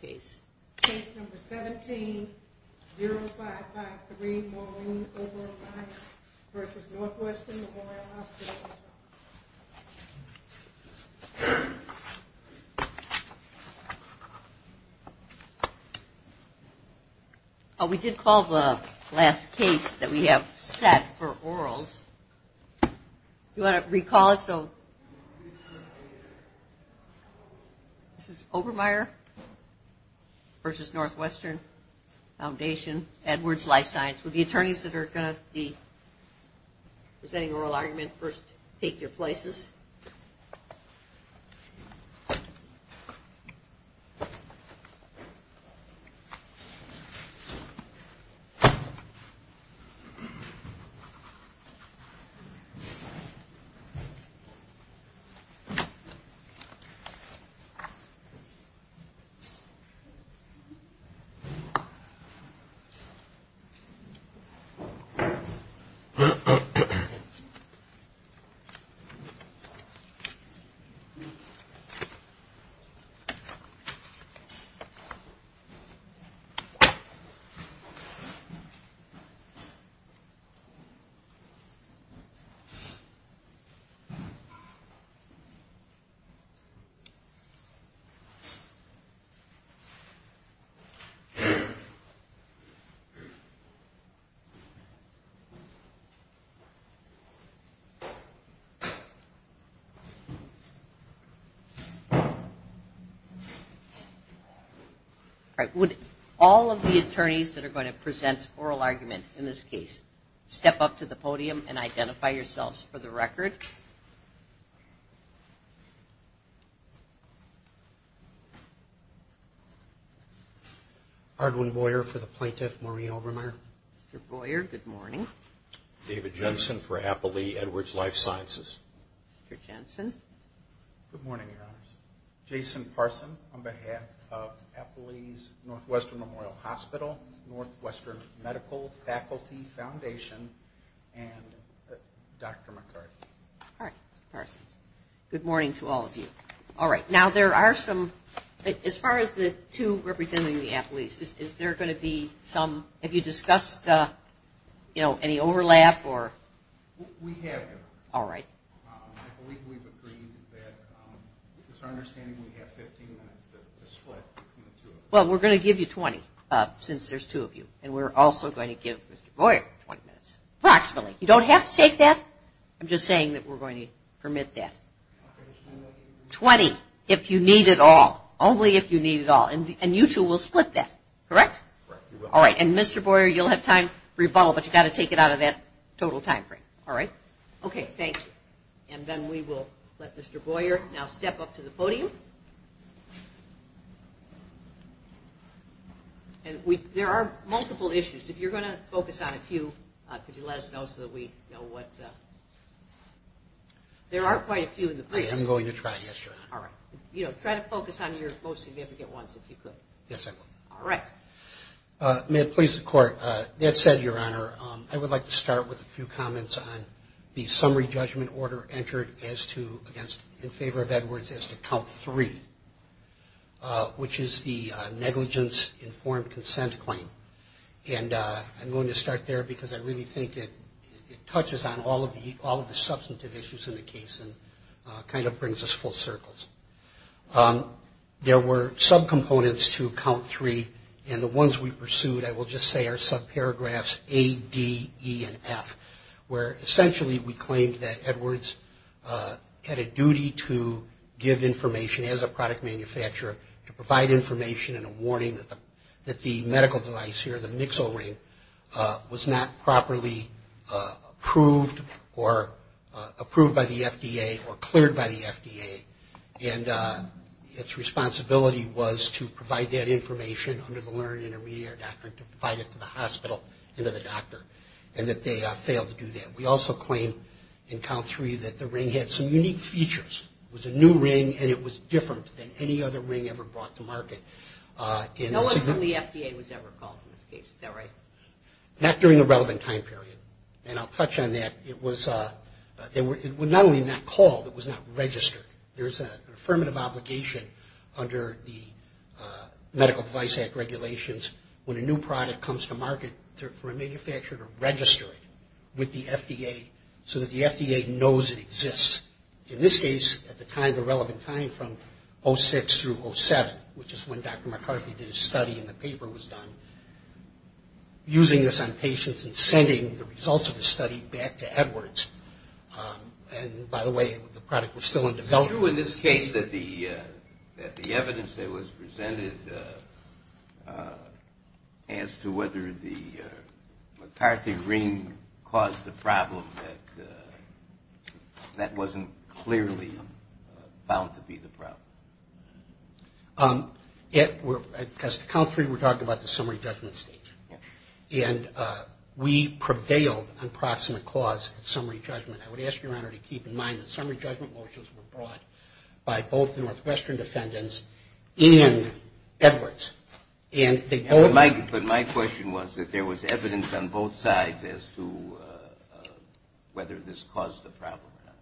Case number 17, 0553 Maureen Oberlein v. Northwestern Memorial Hospital. We did call the last case that we have set for orals. Do you want to recall us? This is Obermeier v. Northwestern Foundation, Edwards Life Science. For the attorneys that are going to be presenting oral argument, first take your places. Okay. Okay. Okay. All right. Would all of the attorneys that are going to present oral argument in this case step up to the podium and identify yourselves for the record? All right. Ardwin Boyer for the plaintiff, Maureen Obermeier. Mr. Boyer, good morning. David Jensen for Appley, Edwards Life Sciences. Mr. Jensen. Good morning, Your Honors. Jason Parson on behalf of Appley's Northwestern Memorial Hospital, Northwestern Medical Faculty Foundation, and Dr. McCarty. All right, Mr. Parsons. Good morning to all of you. All right. Now, there are some, as far as the two representing the Appley's, is there going to be some, have you discussed, you know, any overlap or? We have. All right. I believe we've agreed that it's our understanding we have 15 minutes to split between the two of you. Well, we're going to give you 20 since there's two of you, and we're also going to give Mr. Boyer 20 minutes approximately. You don't have to take that. I'm just saying that we're going to permit that. 20 if you need it all, only if you need it all. And you two will split that, correct? Correct, we will. All right. And, Mr. Boyer, you'll have time for your bottle, but you've got to take it out of that total time frame. All right? Okay, thank you. And then we will let Mr. Boyer now step up to the podium. And there are multiple issues. If you're going to focus on a few, could you let us know so that we know what? There are quite a few in the place. I am going to try, yes, Your Honor. All right. You know, try to focus on your most significant ones if you could. Yes, I will. All right. May it please the Court, that said, Your Honor, I would like to start with a few comments on the summary judgment order entered as to, in favor of Edwards, as to Count 3, which is the negligence-informed consent claim. And I'm going to start there because I really think it touches on all of the substantive issues in the case and kind of brings us full circles. There were subcomponents to Count 3, and the ones we pursued, I will just say, are subparagraphs A, D, E, and F, where, essentially, we claimed that Edwards had a duty to give information, as a product manufacturer, to provide information and a warning that the medical device here, the Mixel ring, was not properly approved or approved by the FDA or cleared by the FDA. And its responsibility was to provide that information under the learned intermediary doctrine to provide it to the hospital and to the doctor, and that they failed to do that. We also claim in Count 3 that the ring had some unique features. It was a new ring, and it was different than any other ring ever brought to market. No one from the FDA was ever called in this case. Is that right? Not during a relevant time period. And I'll touch on that. It was not only not called, it was not registered. There's an affirmative obligation under the Medical Device Act regulations, when a new product comes to market, for a manufacturer to register it with the FDA, so that the FDA knows it exists. In this case, at the time, the relevant time from 06 through 07, which is when Dr. McCarthy did his study and the paper was done, using this on patients and sending the results of the study back to Edwards. And, by the way, the product was still in development. Is it true in this case that the evidence that was presented as to whether the McCarthy ring caused the problem, that that wasn't clearly bound to be the problem? As to Count 3, we're talking about the summary judgment stage. And we prevailed on proximate cause at summary judgment. I would ask Your Honor to keep in mind that summary judgment motions were brought by both the Northwestern defendants and Edwards. But my question was that there was evidence on both sides as to whether this caused the problem or not.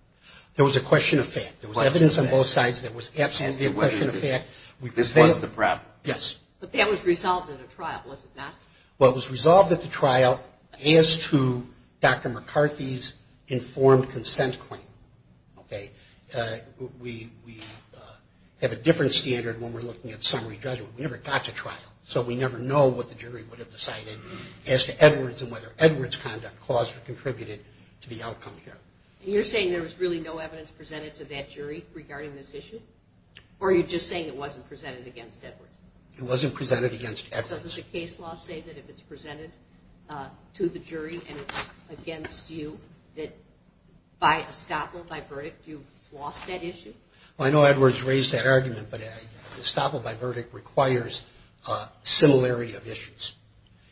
There was a question of fact. There was evidence on both sides that was absolutely a question of fact. This was the problem. Yes. But that was resolved at a trial, was it not? Well, it was resolved at the trial as to Dr. McCarthy's informed consent claim. Okay? We have a different standard when we're looking at summary judgment. We never got to trial. So we never know what the jury would have decided as to Edwards and whether Edwards' conduct caused or contributed to the outcome here. And you're saying there was really no evidence presented to that jury regarding this issue? Or are you just saying it wasn't presented against Edwards? It wasn't presented against Edwards. Does the case law say that if it's presented to the jury and it's against you, that by estoppel, by verdict, you've lost that issue? Well, I know Edwards raised that argument, but estoppel by verdict requires similarity of issues.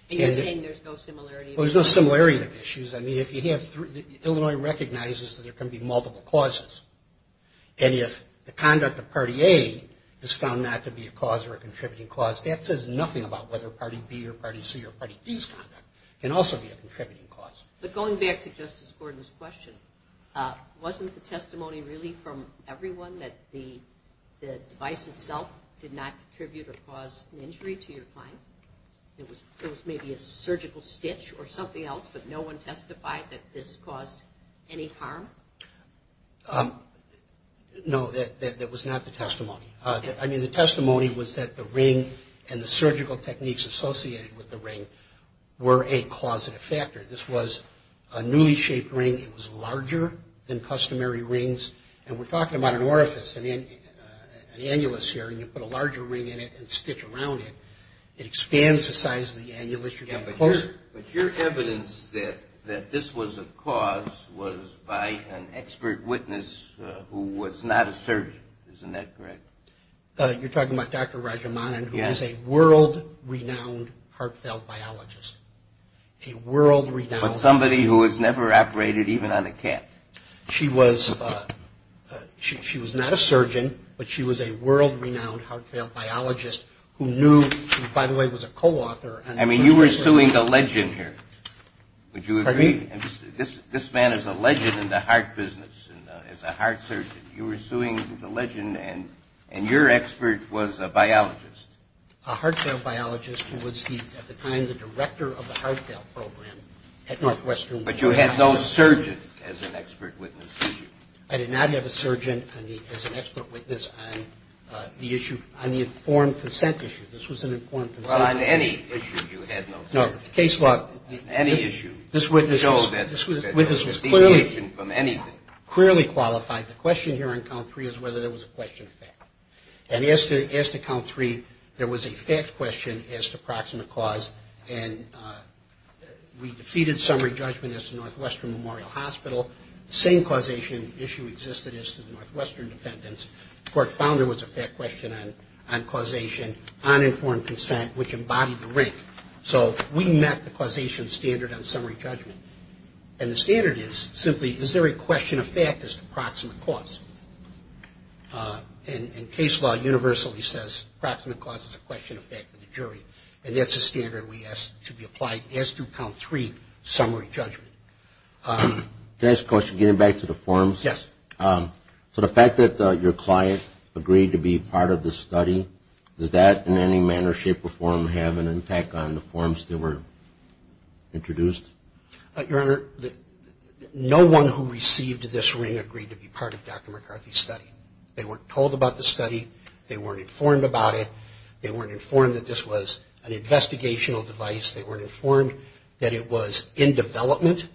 And you're saying there's no similarity of issues? Well, there's no similarity of issues. I mean, if you have three ñ Illinois recognizes that there can be multiple causes. And if the conduct of Party A is found not to be a cause or a contributing cause, that says nothing about whether Party B or Party C or Party D's conduct can also be a contributing cause. But going back to Justice Gordon's question, wasn't the testimony really from everyone that the device itself did not contribute or cause an injury to your client? It was maybe a surgical stitch or something else, but no one testified that this caused any harm? No, that was not the testimony. I mean, the testimony was that the ring and the surgical techniques associated with the ring were a causative factor. This was a newly shaped ring. It was larger than customary rings. And we're talking about an orifice, an annulus here, and you put a larger ring in it and stitch around it. It expands the size of the annulus. But your evidence that this was a cause was by an expert witness who was not a surgeon. Isn't that correct? You're talking about Dr. Rajamanan, who is a world-renowned heart valve biologist. A world-renowned. But somebody who has never operated even on a cat. She was not a surgeon, but she was a world-renowned heart valve biologist who knew, who, by the way, was a co-author. I mean, you were suing a legend here. Would you agree? This man is a legend in the heart business, is a heart surgeon. You were suing the legend, and your expert was a biologist. A heart valve biologist who was, at the time, the director of the heart valve program at Northwestern. But you had no surgeon as an expert witness, did you? I did not have a surgeon as an expert witness on the issue, on the informed consent issue. This was an informed consent issue. Well, on any issue you had no surgeon. No, but the case law. Any issue. This witness was clearly qualified. The question here on count three is whether there was a question of fact. And as to count three, there was a fact question as to proximate cause, and we defeated summary judgment at the Northwestern Memorial Hospital. The same causation issue existed as to the Northwestern defendants. The court found there was a fact question on causation on informed consent, which embodied the rank. So we met the causation standard on summary judgment. And the standard is simply, is there a question of fact as to proximate cause? And case law universally says proximate cause is a question of fact for the jury, and that's a standard we ask to be applied as to count three summary judgment. Can I ask a question? Getting back to the forms. Yes. So the fact that your client agreed to be part of the study, does that in any manner, shape, or form have an impact on the forms that were introduced? Your Honor, no one who received this ring agreed to be part of Dr. McCarthy's study. They weren't told about the study. They weren't informed about it. They weren't informed that this was an investigational device. They weren't informed that it was in development.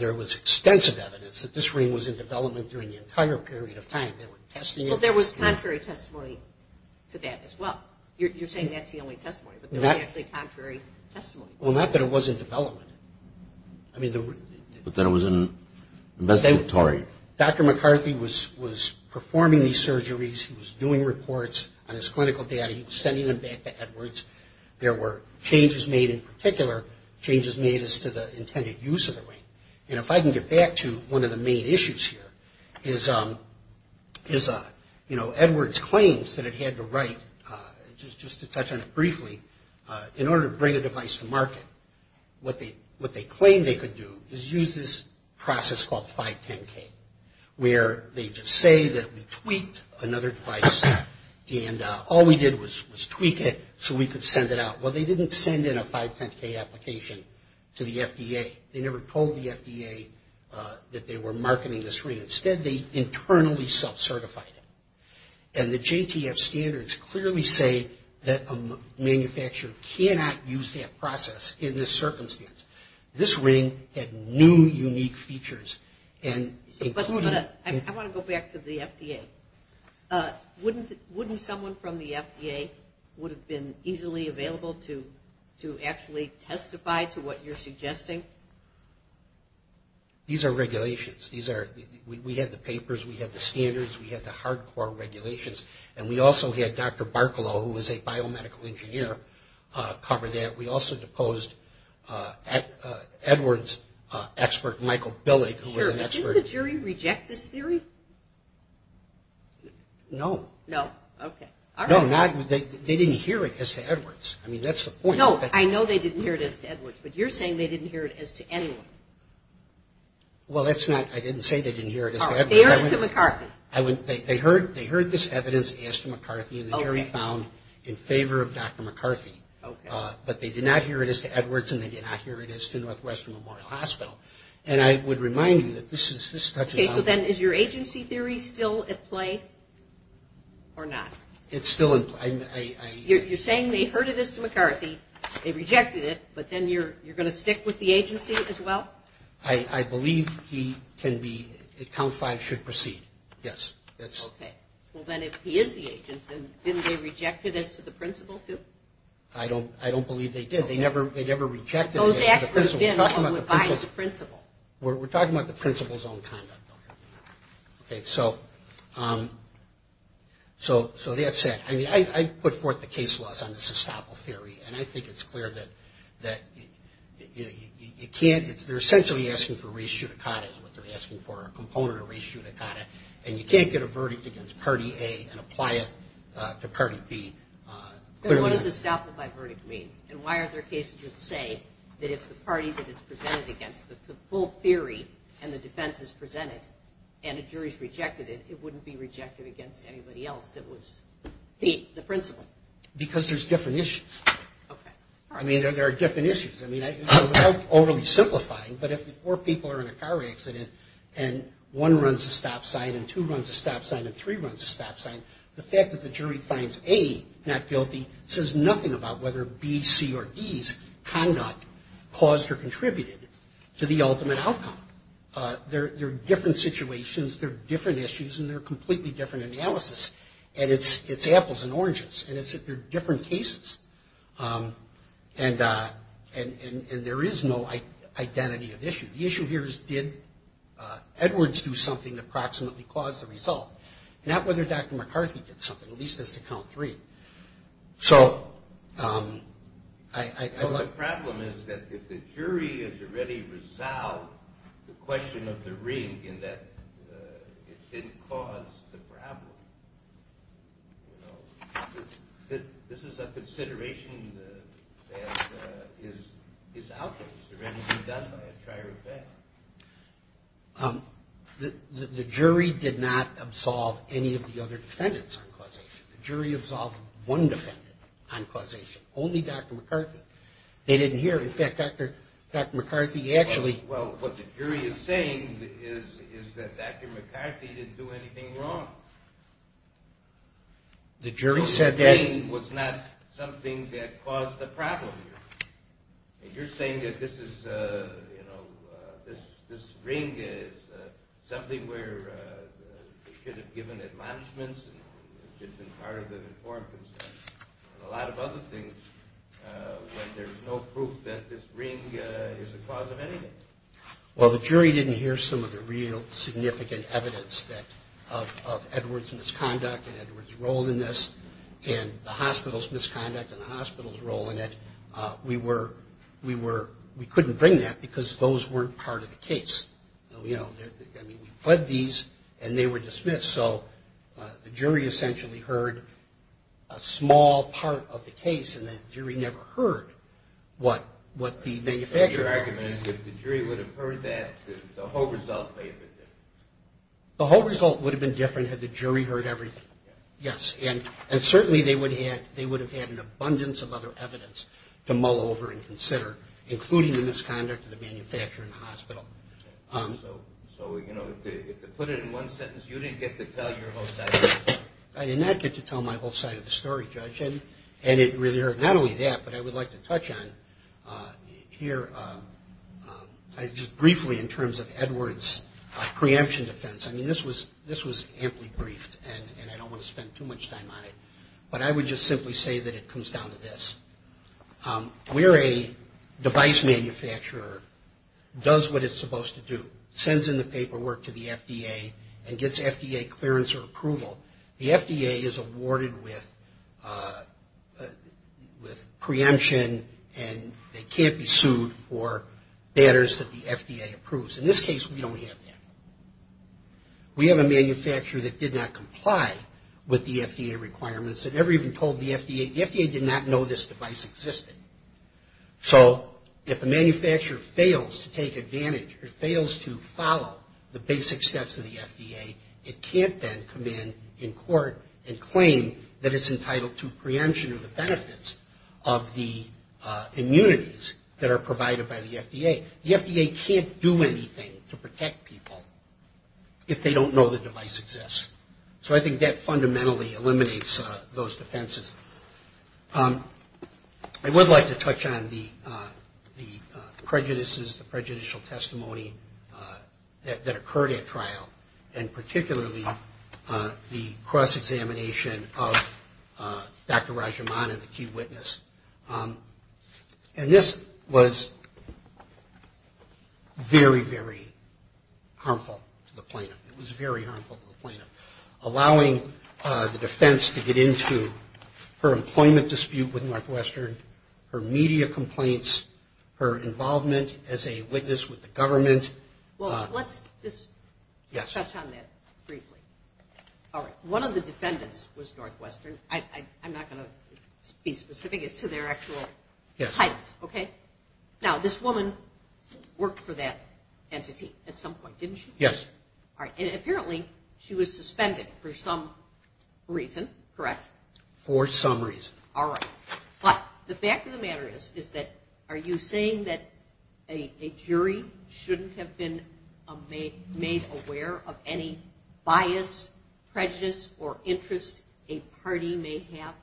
There was extensive evidence that this ring was in development during the entire period of time. They were testing it. Well, there was contrary testimony to that as well. You're saying that's the only testimony, but there was actually contrary testimony. Well, not that it was in development. But that it was investigatory. Dr. McCarthy was performing these surgeries. He was doing reports on his clinical data. He was sending them back to Edwards. There were changes made in particular, changes made as to the intended use of the ring. And if I can get back to one of the main issues here is, you know, Edwards claims that it had to write, just to touch on it briefly, in order to bring a device to market, what they claim they could do is use this process called 510K, where they just say that we tweaked another device, and all we did was tweak it so we could send it out. Well, they didn't send in a 510K application to the FDA. They never told the FDA that they were marketing this ring. Instead, they internally self-certified it. And the JTF standards clearly say that a manufacturer cannot use that process in this circumstance. This ring had new, unique features. I want to go back to the FDA. Wouldn't someone from the FDA would have been easily available to actually testify to what you're suggesting? These are regulations. We had the papers. We had the standards. We had the hardcore regulations. And we also had Dr. Barkalow, who was a biomedical engineer, cover that. We also deposed Edwards' expert, Michael Billig, who was an expert. Sure, but didn't the jury reject this theory? No. No? Okay. No, they didn't hear it as to Edwards. I mean, that's the point. No, I know they didn't hear it as to Edwards, but you're saying they didn't hear it as to anyone. Well, that's not – I didn't say they didn't hear it as to Edwards. Oh, they heard it to McCarthy. They heard this evidence as to McCarthy, and the jury found in favor of Dr. McCarthy. Okay. But they did not hear it as to Edwards, and they did not hear it as to Northwestern Memorial Hospital. And I would remind you that this touches on – Okay, so then is your agency theory still at play or not? It's still in – I – You're saying they heard it as to McCarthy, they rejected it, but then you're going to stick with the agency as well? I believe he can be – that Count 5 should proceed. Yes, that's – Okay. Well, then if he is the agent, then didn't they reject it as to the principal too? I don't believe they did. They never rejected it as to the principal. Those experts then are the ones who advise the principal. We're talking about the principal's own conduct. Okay, so that's it. I mean, I've put forth the case laws on this estoppel theory, and I think it's clear that you can't – they're essentially asking for res judicata is what they're asking for, a component of res judicata, and you can't get a verdict against party A and apply it to party B. What does estoppel by verdict mean? And why are there cases that say that if the party that is presented against the full theory and the defense is presented and a jury's rejected it, it wouldn't be rejected against anybody else that was the principal? Because there's different issues. Okay. I mean, there are different issues. I mean, without overly simplifying, but if four people are in a car accident and one runs a stop sign and two runs a stop sign and three runs a stop sign, the fact that the jury finds A not guilty says nothing about whether B, C, or D's conduct caused or contributed to the ultimate outcome. There are different situations. There are different issues, and they're a completely different analysis, and it's apples and oranges, and they're different cases, and there is no identity of issue. The issue here is did Edwards do something to proximately cause the result, not whether Dr. McCarthy did something, at least as to count three. So I'd like to. Well, the problem is that if the jury has already resolved the question of the ring in that it didn't cause the problem, you know, this is a consideration that is out there. Is there anything done by a trier of bail? The jury did not absolve any of the other defendants. The jury absolved one defendant on causation, only Dr. McCarthy. They didn't hear, in fact, Dr. McCarthy actually. Well, what the jury is saying is that Dr. McCarthy didn't do anything wrong. The jury said that. The ring was not something that caused the problem. You're saying that this is, you know, this ring is something where they should have given admonishments and should have been part of an informed consent and a lot of other things when there's no proof that this ring is the cause of anything? Well, the jury didn't hear some of the real significant evidence of Edwards' misconduct and Edwards' role in this and the hospital's misconduct and the hospital's role in it. We couldn't bring that because those weren't part of the case. I mean, we fled these and they were dismissed, so the jury essentially heard a small part of the case and the jury never heard what the manufacturer said. So your argument is if the jury would have heard that, the whole result may have been different. The whole result would have been different had the jury heard everything, yes, and certainly they would have had an abundance of other evidence to mull over and consider, including the misconduct of the manufacturer and the hospital. So, you know, to put it in one sentence, you didn't get to tell your whole side of the story. I did not get to tell my whole side of the story, Judge, and it really hurt not only that but I would like to touch on here just briefly in terms of Edwards' preemption defense. I mean, this was amply briefed and I don't want to spend too much time on it, but I would just simply say that it comes down to this. We're a device manufacturer, does what it's supposed to do, sends in the paperwork to the FDA and gets FDA clearance or approval. The FDA is awarded with preemption and they can't be sued for matters that the FDA approves. In this case, we don't have that. We have a manufacturer that did not comply with the FDA requirements and never even told the FDA. The FDA did not know this device existed. So if a manufacturer fails to take advantage or fails to follow the basic steps of the FDA, it can't then come in in court and claim that it's entitled to preemption or the benefits of the immunities that are provided by the FDA. The FDA can't do anything to protect people if they don't know the device exists. So I think that fundamentally eliminates those defenses. I would like to touch on the prejudices, the prejudicial testimony that occurred at trial and particularly the cross-examination of Dr. Rajaman and the key witness. And this was very, very harmful to the plaintiff. It was very harmful to the plaintiff. Allowing the defense to get into her employment dispute with Northwestern, her media complaints, her involvement as a witness with the government. Well, let's just touch on that briefly. All right. One of the defendants was Northwestern. I'm not going to be specific as to their actual titles. Okay? Now, this woman worked for that entity at some point, didn't she? Yes. All right. And apparently she was suspended for some reason, correct? For some reason. All right. But the fact of the matter is that are you saying that a jury shouldn't have been made aware of any bias, prejudice, or interest a party may have?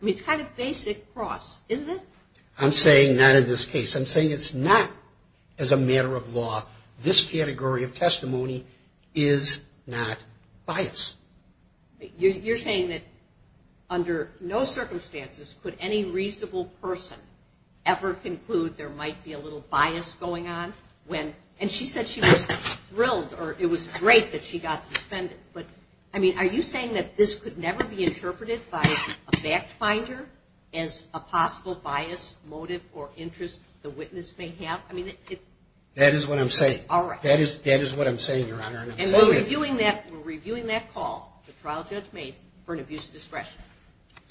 I mean, it's kind of basic cross, isn't it? I'm saying not in this case. I'm saying it's not as a matter of law. This category of testimony is not bias. You're saying that under no circumstances could any reasonable person ever conclude there might be a little bias going on? And she said she was thrilled or it was great that she got suspended. But, I mean, are you saying that this could never be interpreted by a fact finder as a possible bias, motive, or interest the witness may have? That is what I'm saying. All right. That is what I'm saying, Your Honor. And I'm saying it. And we're reviewing that call the trial judge made for an abuse of discretion.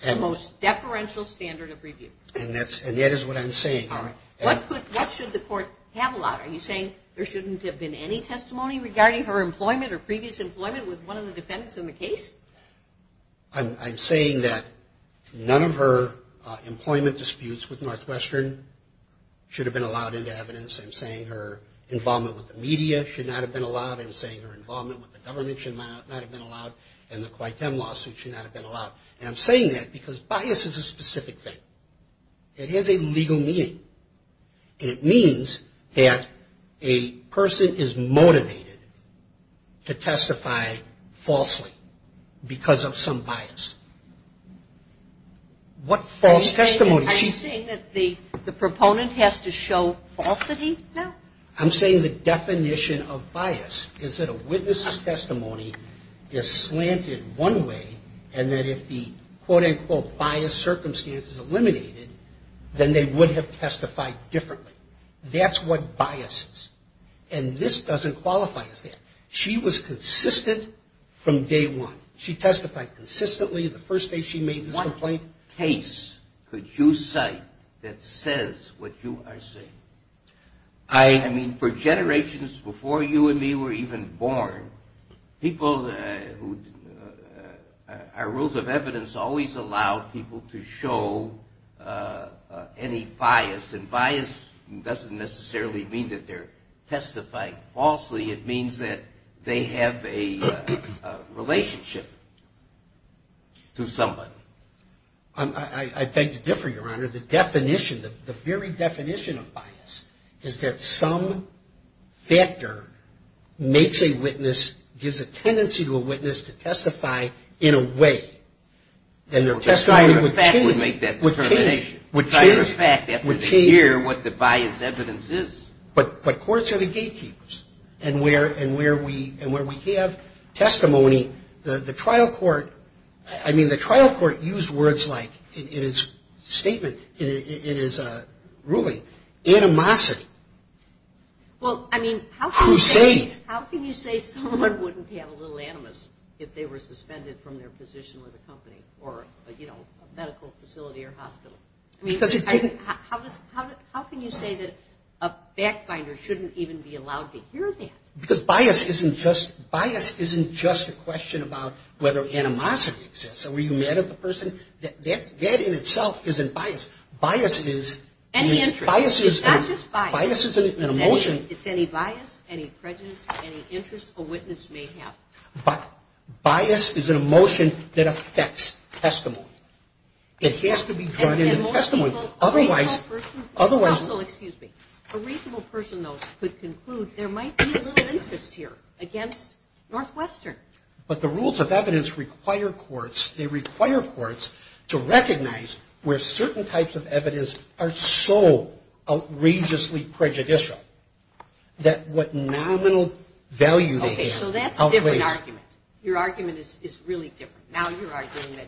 The most deferential standard of review. And that is what I'm saying. All right. What should the court have allowed? Are you saying there shouldn't have been any testimony regarding her employment or previous employment with one of the defendants in the case? I'm saying that none of her employment disputes with Northwestern should have been allowed into evidence. I'm saying her involvement with the media should not have been allowed. I'm saying her involvement with the government should not have been allowed. And the Quinten lawsuit should not have been allowed. And I'm saying that because bias is a specific thing. It has a legal meaning. And it means that a person is motivated to testify falsely because of some bias. What false testimony? Are you saying that the proponent has to show falsity? No. I'm saying the definition of bias is that a witness's testimony is slanted one way and that if the quote-unquote bias circumstance is eliminated, then they would have testified differently. That's what bias is. And this doesn't qualify as that. She was consistent from day one. She testified consistently the first day she made this complaint. What case could you cite that says what you are saying? I mean, for generations before you and me were even born, people who our rules of evidence always allow people to show any bias. And bias doesn't necessarily mean that they're testifying falsely. It means that they have a relationship to somebody. I beg to differ, Your Honor. The definition, the very definition of bias is that some factor makes a witness, gives a tendency to a witness to testify in a way. And their testimony would change. Would make that determination. Would change. Would change. In fact, after they hear what the bias evidence is. But courts are the gatekeepers. And where we have testimony, the trial court, I mean, the trial court used words like, in its statement, in its ruling, animosity, crusade. How can you say someone wouldn't have a little animus if they were suspended from their position with a company or, you know, a medical facility or hospital? I mean, how can you say that a fact finder shouldn't even be allowed to hear that? Because bias isn't just a question about whether animosity exists. Are you mad at the person? That in itself isn't bias. Bias is. Any interest. It's not just bias. Bias is an emotion. It's any bias, any prejudice, any interest a witness may have. But bias is an emotion that affects testimony. It has to be drawn into testimony. Otherwise. Counsel, excuse me. A reasonable person, though, could conclude there might be a little interest here against Northwestern. But the rules of evidence require courts. They require courts to recognize where certain types of evidence are so outrageously prejudicial that what nominal value they have outweighs. Okay, so that's a different argument. Your argument is really different. Now you're arguing that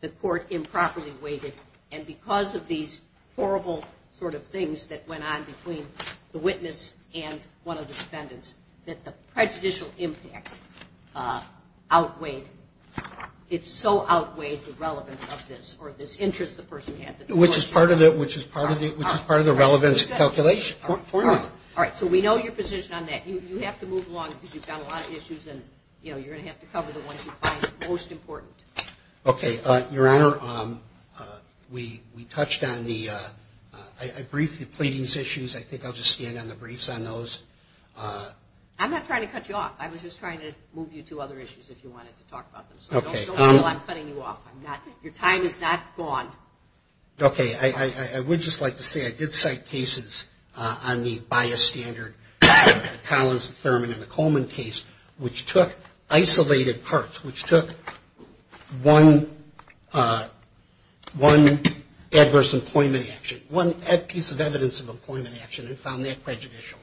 the court improperly weighted, and because of these horrible sort of things that went on between the witness and one of the defendants, that the prejudicial impact outweighed, it so outweighed the relevance of this or this interest the person had. Which is part of the relevance calculation. All right, so we know your position on that. You have to move along because you've got a lot of issues, and, you know, you're going to have to cover the ones you find most important. Okay. Your Honor, we touched on the brief pleadings issues. I think I'll just stand on the briefs on those. I'm not trying to cut you off. I was just trying to move you to other issues if you wanted to talk about them. So don't feel I'm cutting you off. Your time is not gone. Okay. I would just like to say I did cite cases on the by a standard Collins Affirmative Coleman case, which took isolated parts, which took one adverse employment action, one piece of evidence of employment action and found that prejudicial.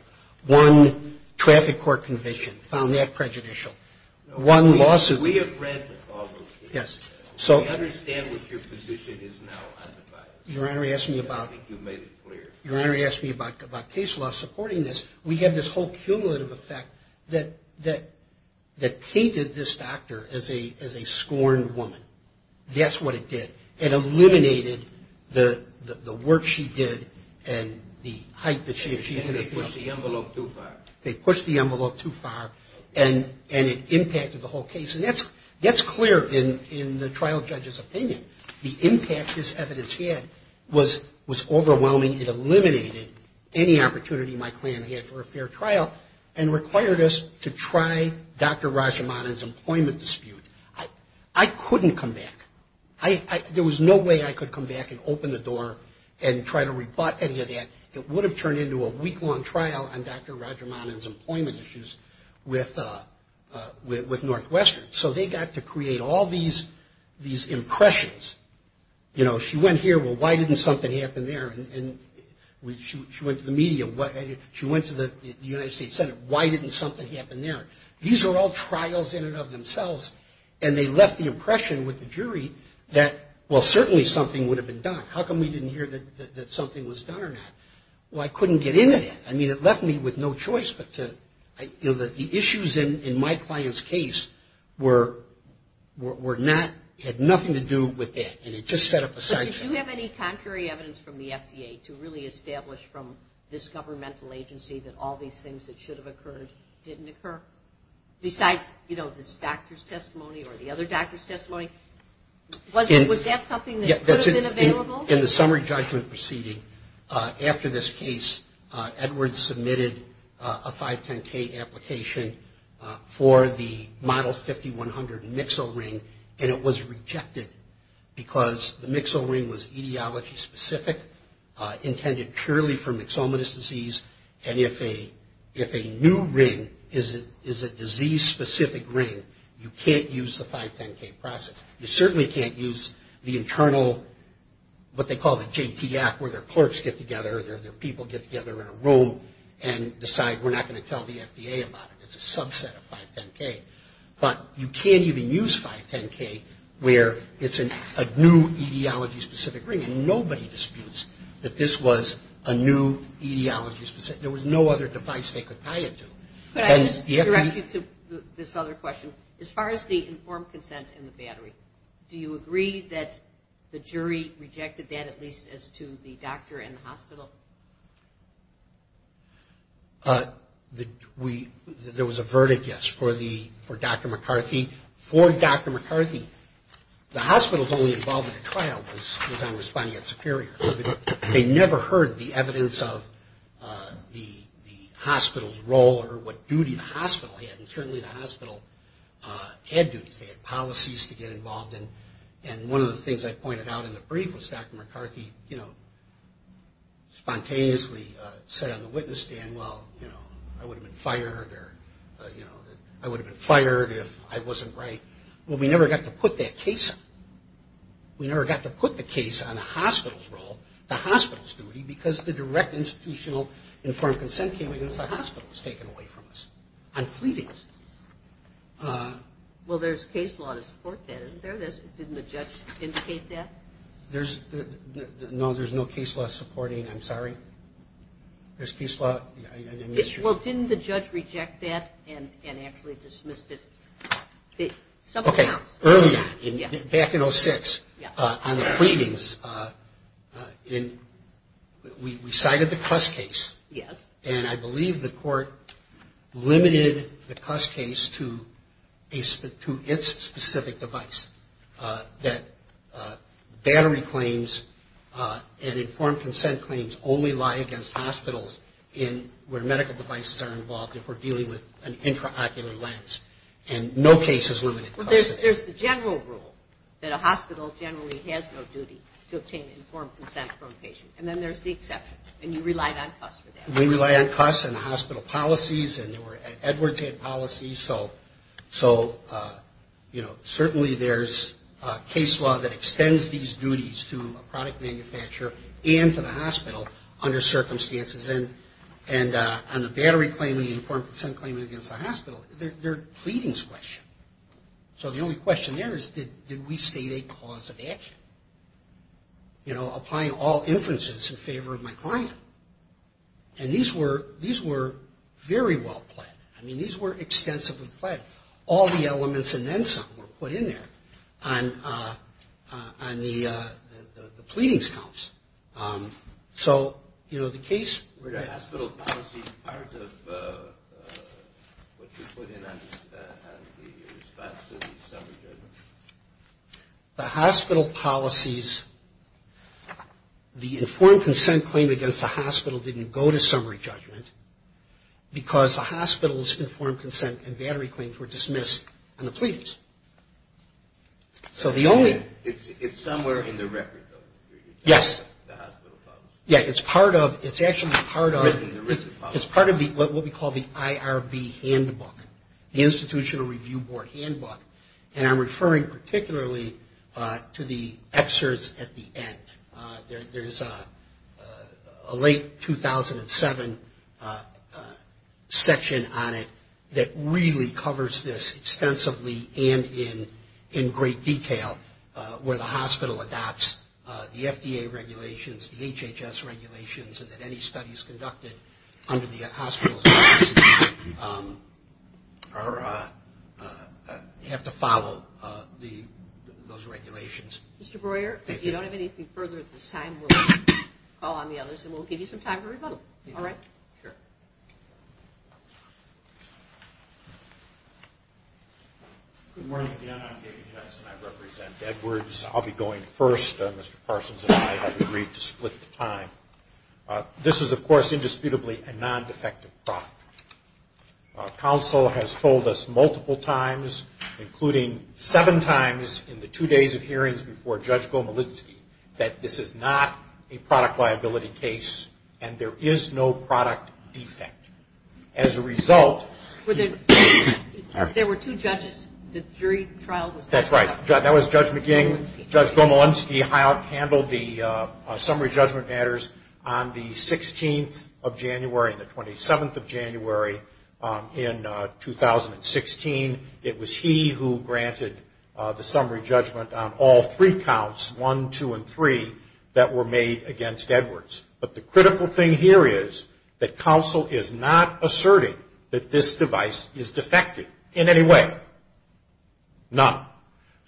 One traffic court conviction found that prejudicial. One lawsuit. We have read the problems. Yes. I understand what your position is now on the file. Your Honor, he asked me about case law supporting this. We had this whole cumulative effect that painted this doctor as a scorned woman. That's what it did. It eliminated the work she did and the hype that she had. They pushed the envelope too far. They pushed the envelope too far, and it impacted the whole case. And that's clear in the trial judge's opinion. The impact this evidence had was overwhelming. It eliminated any opportunity my clan had for a fair trial and required us to try Dr. Rajamanan's employment dispute. I couldn't come back. There was no way I could come back and open the door and try to rebut any of that. It would have turned into a week-long trial on Dr. Rajamanan's employment issues with Northwestern. So they got to create all these impressions. You know, she went here. Well, why didn't something happen there? She went to the media. She went to the United States Senate. Why didn't something happen there? These are all trials in and of themselves, and they left the impression with the jury that, well, certainly something would have been done. How come we didn't hear that something was done or not? Well, I couldn't get into that. I mean, it left me with no choice but to, you know, the issues in my client's case were not, had nothing to do with that, and it just set up a side show. But did you have any contrary evidence from the FDA to really establish from this governmental agency that all these things that should have occurred didn't occur, besides, you know, this doctor's testimony or the other doctor's testimony? Was that something that could have been available? In the summary judgment proceeding, after this case, Edwards submitted a 510K application for the model 5100 mixo ring, and it was rejected because the mixo ring was etiology specific, intended purely for myxomatous disease, and if a new ring is a disease-specific ring, you can't use the 510K process. You certainly can't use the internal, what they call the JTF, where their clerks get together, their people get together in a room and decide we're not going to tell the FDA about it. It's a subset of 510K. But you can't even use 510K where it's a new etiology-specific ring, and nobody disputes that this was a new etiology-specific. There was no other device they could tie it to. Could I just direct you to this other question? As far as the informed consent and the battery, do you agree that the jury rejected that at least as to the doctor and the hospital? There was a verdict, yes, for Dr. McCarthy. The hospital's only involvement in the trial was on responding at Superior, so they never heard the evidence of the hospital's role or what duty the hospital had, and certainly the hospital had duties. They had policies to get involved in, and one of the things I pointed out in the brief was Dr. McCarthy spontaneously said on the witness stand, well, you know, I would have been fired if I wasn't right. Well, we never got to put that case up. We never got to put the case on the hospital's role, the hospital's duty, because the direct institutional informed consent came in if the hospital was taken away from us on pleadings. Well, there's case law to support that, isn't there? Didn't the judge indicate that? No, there's no case law supporting. I'm sorry? There's case law? Well, didn't the judge reject that and actually dismiss it? Okay, earlier, back in 06, on the pleadings, we cited the CUS case, and I believe the court limited the CUS case to its specific device, that battery claims and informed consent claims only lie against hospitals where medical devices are involved if we're dealing with an intraocular lens, and no case is limited. Well, there's the general rule that a hospital generally has no duty to obtain informed consent from a patient, and then there's the exceptions, and you relied on CUS for that. We relied on CUS and the hospital policies, and Edwards had policies, so, you know, certainly there's case law that extends these duties to a product manufacturer and to the hospital under circumstances, and on the battery claim and the informed consent claim against the hospital, they're pleadings questions. So the only question there is did we state a cause of action? You know, applying all inferences in favor of my client. And these were very well planned. I mean, these were extensively planned. All the elements and then some were put in there on the pleadings counts. So, you know, the case where the hospital policy part of what you put in as the response to the summary judgment. The hospital policies, the informed consent claim against the hospital didn't go to summary judgment because the hospital's informed consent and battery claims were dismissed on the pleadings. So the only ‑‑ It's somewhere in the record though. Yes. The hospital policy. Yeah, it's part of, it's actually part of, it's part of what we call the IRB handbook, the Institutional Review Board handbook, and I'm referring particularly to the excerpts at the end. There's a late 2007 section on it that really covers this extensively and in great detail where the hospital adopts the FDA regulations, the HHS regulations, and that any studies conducted under the hospital's policy are, have to follow those regulations. Mr. Breuer, if you don't have anything further at this time, we'll call on the others and we'll give you some time to rebuttal. All right? Sure. Good morning again. I'm David Jensen. I represent Edwards. I'll be going first. Mr. Parsons and I have agreed to split the time. This is, of course, indisputably a non‑defective product. Council has told us multiple times, including seven times in the two days of hearings before Judge Gomulinsky, that this is not a product liability case and there is no product defect. As a result ‑‑ There were two judges, the jury trial was ‑‑ That's right. That was Judge McGinn. Judge Gomulinsky handled the summary judgment matters on the 16th of January and the 27th of January in 2016. It was he who granted the summary judgment on all three counts, one, two, and three, that were made against Edwards. But the critical thing here is that council is not asserting that this device is defective in any way. None.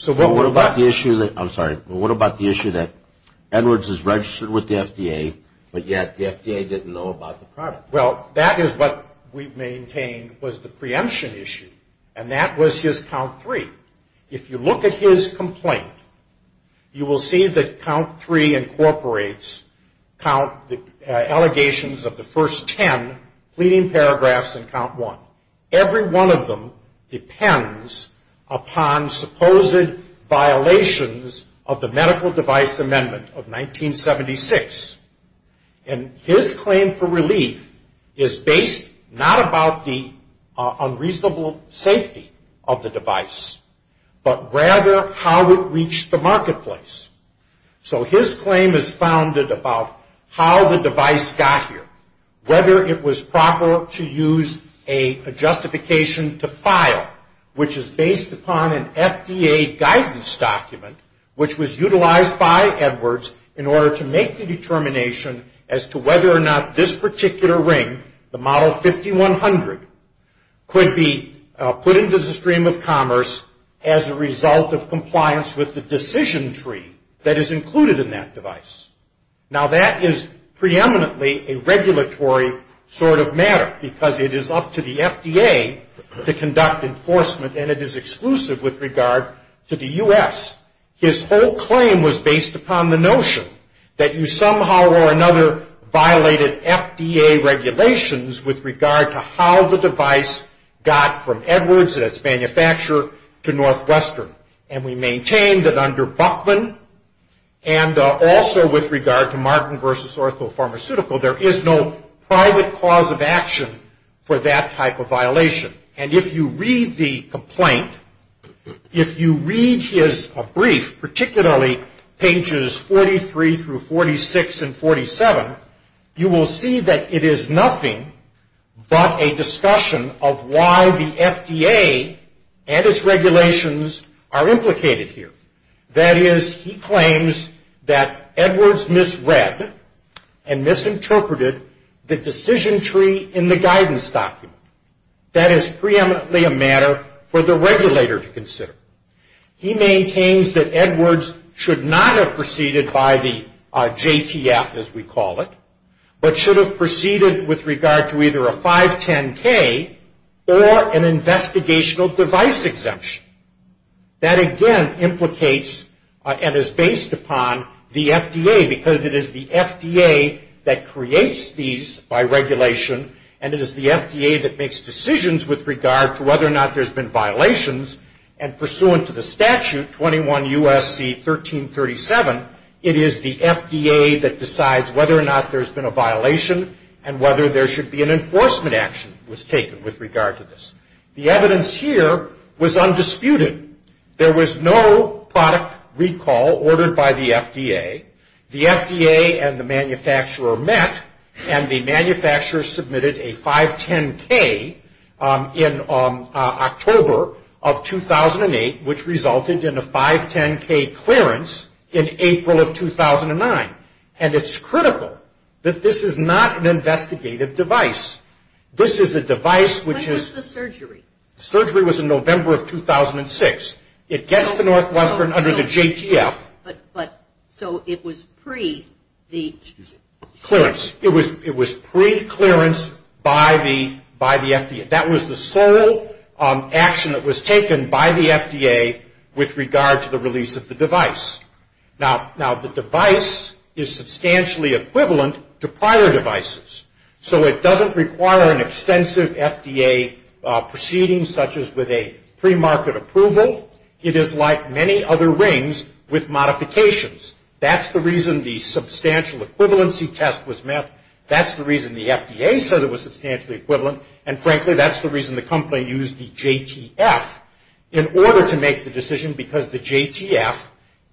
What about the issue that ‑‑ I'm sorry. What about the issue that Edwards is registered with the FDA, but yet the FDA didn't know about the product? Well, that is what we've maintained was the preemption issue, and that was his count three. If you look at his complaint, you will see that count three incorporates allegations of the first ten pleading paragraphs in count one. Every one of them depends upon supposed violations of the medical device amendment of 1976. And his claim for relief is based not about the unreasonable safety of the device, but rather how it reached the marketplace. So his claim is founded about how the device got here, whether it was proper to use a justification to file, which is based upon an FDA guidance document, which was utilized by Edwards in order to make the determination as to whether or not this particular ring, the model 5100, could be put into the stream of commerce as a result of compliance with the decision tree that is included in that device. Now, that is preeminently a regulatory sort of matter, because it is up to the FDA to conduct enforcement, and it is exclusive with regard to the U.S. His whole claim was based upon the notion that you somehow or another violated FDA regulations with regard to how the device got from Edwards and its manufacturer to Northwestern. And we maintain that under Buckman, and also with regard to Martin v. Orthopharmaceutical, there is no private cause of action for that type of violation. And if you read the complaint, if you read his brief, particularly pages 43 through 46 and 47, you will see that it is nothing but a discussion of why the FDA and its regulations are implicated here. That is, he claims that Edwards misread and misinterpreted the decision tree in the guidance document. That is preeminently a matter for the regulator to consider. He maintains that Edwards should not have proceeded by the JTF, as we call it, but should have proceeded with regard to either a 510K or an investigational device exemption. That, again, implicates and is based upon the FDA, because it is the FDA that creates these by regulation, and it is the FDA that makes decisions with regard to whether or not there's been violations. And pursuant to the statute, 21 U.S.C. 1337, it is the FDA that decides whether or not there's been a violation and whether there should be an enforcement action was taken with regard to this. The evidence here was undisputed. There was no product recall ordered by the FDA. The FDA and the manufacturer met, and the manufacturer submitted a 510K in October of 2008, which resulted in a 510K clearance in April of 2009. And it's critical that this is not an investigative device. This is a device which is the surgery. Surgery was in November of 2006. It gets to Northwestern under the JTF. But so it was pre the clearance. It was pre-clearance by the FDA. That was the sole action that was taken by the FDA with regard to the release of the device. Now, the device is substantially equivalent to prior devices, so it doesn't require an extensive FDA proceeding such as with a premarket approval. It is like many other rings with modifications. That's the reason the substantial equivalency test was met. That's the reason the FDA said it was substantially equivalent. And, frankly, that's the reason the company used the JTF in order to make the decision, because the JTF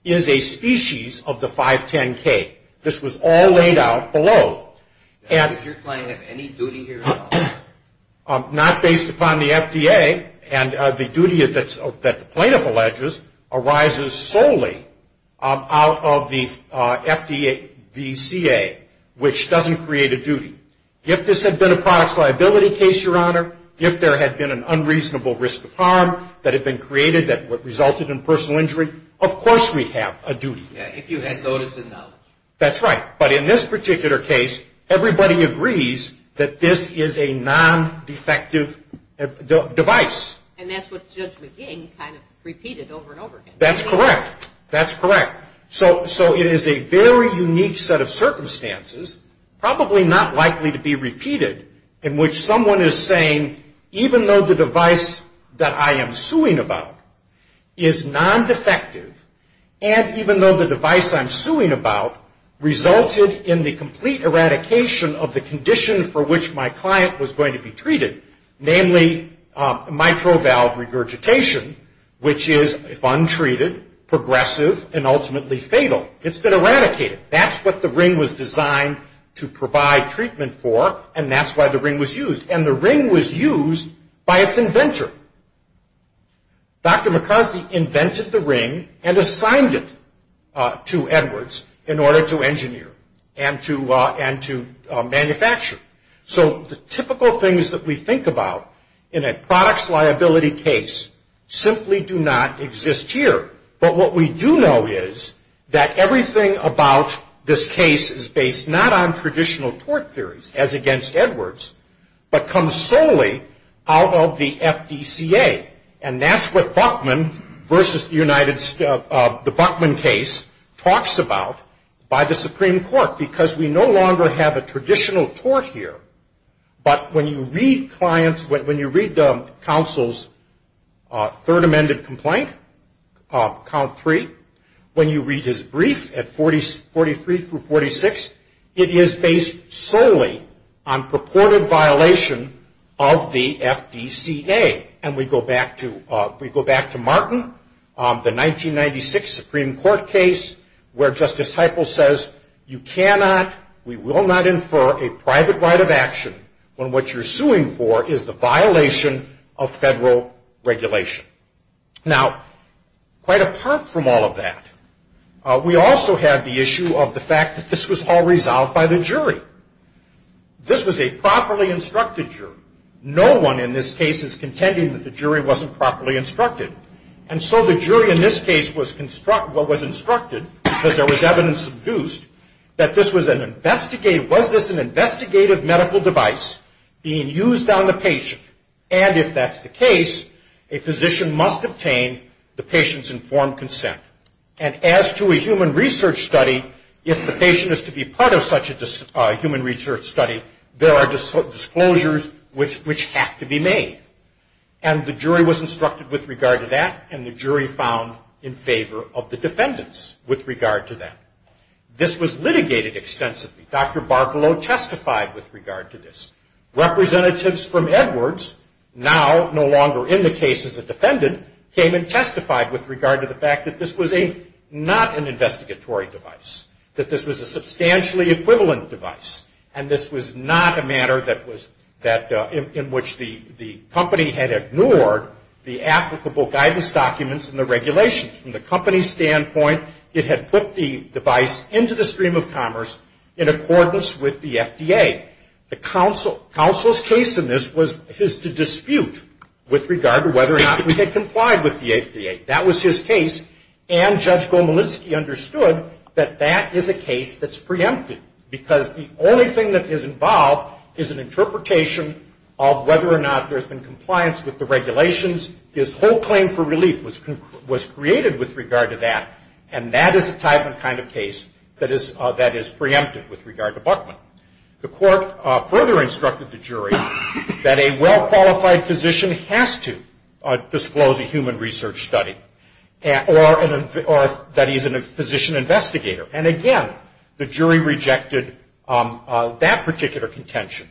is a species of the 510K. This was all laid out below. Does your client have any duty here at all? Not based upon the FDA, and the duty that the plaintiff alleges arises solely out of the FDA, the CA, which doesn't create a duty. If this had been a products liability case, Your Honor, if there had been an unreasonable risk of harm that had been created that resulted in personal injury, of course we'd have a duty. Yeah, if you had notice and knowledge. That's right. But in this particular case, everybody agrees that this is a non-defective device. And that's what Judge McGinn kind of repeated over and over again. That's correct. That's correct. So it is a very unique set of circumstances, probably not likely to be repeated, in which someone is saying, even though the device that I am suing about is non-defective, and even though the device I'm suing about resulted in the complete eradication of the condition for which my client was going to be treated, namely mitral valve regurgitation, which is untreated, progressive, and ultimately fatal. It's been eradicated. That's what the ring was designed to provide treatment for, and that's why the ring was used. And the ring was used by its inventor. Dr. McCarthy invented the ring and assigned it to Edwards in order to engineer and to manufacture. So the typical things that we think about in a products liability case simply do not exist here. But what we do know is that everything about this case is based not on traditional tort theories, as against Edwards, but comes solely out of the FDCA. And that's what Buckman versus the Buckman case talks about by the Supreme Court, because we no longer have a traditional tort here. But when you read the counsel's third amended complaint, count three, when you read his brief at 43 through 46, it is based solely on purported violation of the FDCA. And we go back to Martin, the 1996 Supreme Court case, where Justice Heupel says you cannot, we will not infer a private right of action when what you're suing for is the violation of federal regulation. Now, quite apart from all of that, we also have the issue of the fact that this was all resolved by the jury. This was a properly instructed jury. No one in this case is contending that the jury wasn't properly instructed. And so the jury in this case was instructed, because there was evidence induced, that this was an investigative, was this an investigative medical device being used on the patient? And if that's the case, a physician must obtain the patient's informed consent. And as to a human research study, if the patient is to be part of such a human research study, there are disclosures which have to be made. And the jury was instructed with regard to that, and the jury found in favor of the defendants with regard to that. This was litigated extensively. Dr. Barcolow testified with regard to this. Representatives from Edwards, now no longer in the case as a defendant, came and testified with regard to the fact that this was not an investigatory device, that this was a substantially equivalent device, and this was not a matter in which the company had ignored the applicable guidance documents and the regulations. From the company's standpoint, it had put the device into the stream of commerce in accordance with the FDA. The counsel's case in this was his to dispute with regard to whether or not we had complied with the FDA. That was his case, and Judge Gomelinsky understood that that is a case that's preempted, because the only thing that is involved is an interpretation of whether or not there's been compliance with the regulations. His whole claim for relief was created with regard to that, and that is the type and kind of case that is preempted with regard to Buckman. The court further instructed the jury that a well-qualified physician has to disclose a human research study, or that he's a physician investigator. And, again, the jury rejected that particular contention,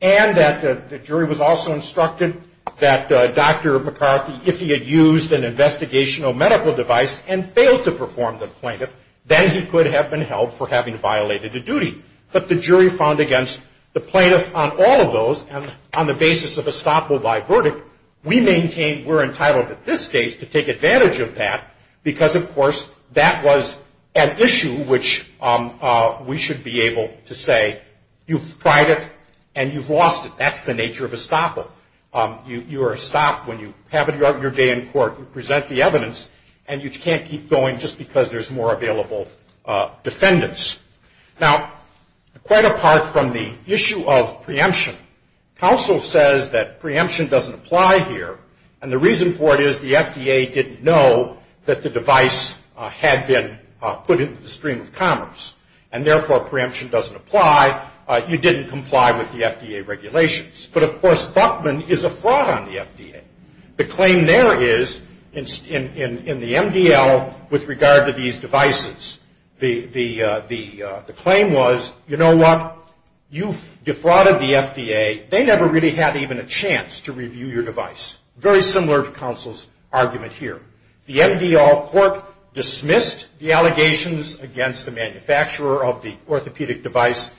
and that the jury was also instructed that Dr. McCarthy, if he had used an investigational medical device and failed to perform the plaintiff, then he could have been held for having violated a duty. But the jury found against the plaintiff on all of those, and on the basis of a stop or buy verdict, we maintain we're entitled at this stage to take advantage of that, because, of course, that was an issue which we should be able to say you've tried it and you've lost it. That's the nature of a stopper. You are stopped when you have an earlier day in court to present the evidence, and you can't keep going just because there's more available defendants. Now, quite apart from the issue of preemption, counsel says that preemption doesn't apply here, and the reason for it is the FDA didn't know that the device had been put into the stream of commerce, and, therefore, preemption doesn't apply. You didn't comply with the FDA regulations. But, of course, Buckman is a fraud on the FDA. The claim there is in the MDL with regard to these devices, the claim was, you know what, you defrauded the FDA. They never really had even a chance to review your device. Very similar to counsel's argument here. The MDL court dismissed the allegations against the manufacturer of the orthopedic device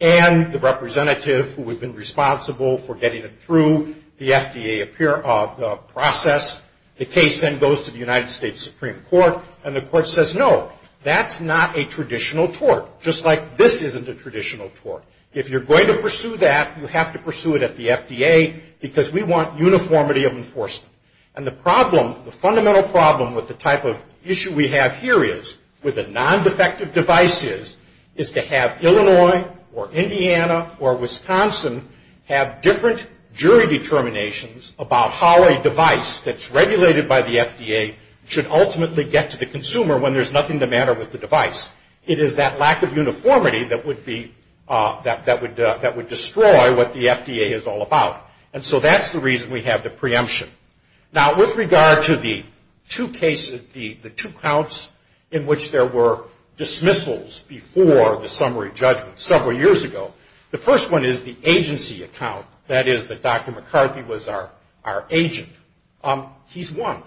and the representative who had been responsible for getting it through the FDA process. The case then goes to the United States Supreme Court, and the court says, no, that's not a traditional tort, just like this isn't a traditional tort. If you're going to pursue that, you have to pursue it at the FDA, because we want uniformity of enforcement. And the problem, the fundamental problem with the type of issue we have here is, with the non-defective devices, is to have Illinois or Indiana or Wisconsin have different jury determinations about how a device that's regulated by the FDA should ultimately get to the consumer when there's nothing the matter with the device. It is that lack of uniformity that would destroy what the FDA is all about. And so that's the reason we have the preemption. Now, with regard to the two counts in which there were dismissals before the summary judgment several years ago, the first one is the agency account, that is that Dr. McCarthy was our agent. He's won.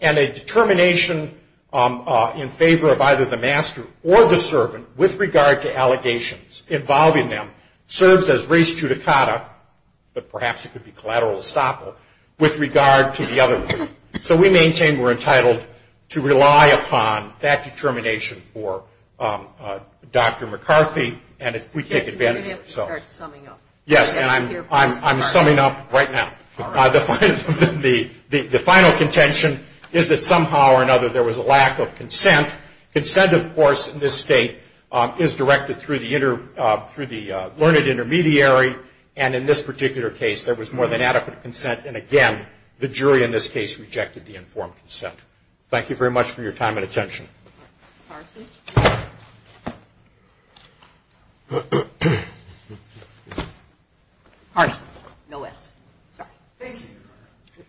And a determination in favor of either the master or the servant with regard to allegations involving them serves as res judicata, but perhaps it could be collateral estoppel, with regard to the other one. So we maintain we're entitled to rely upon that determination for Dr. McCarthy, and we take advantage of it. Yes, and I'm summing up right now. The final contention is that somehow or another there was a lack of consent. Consent, of course, in this state is directed through the learned intermediary, and in this particular case, there was more than adequate consent, and again, the jury in this case rejected the informed consent. Parsons. Parsons. No S. Thank you.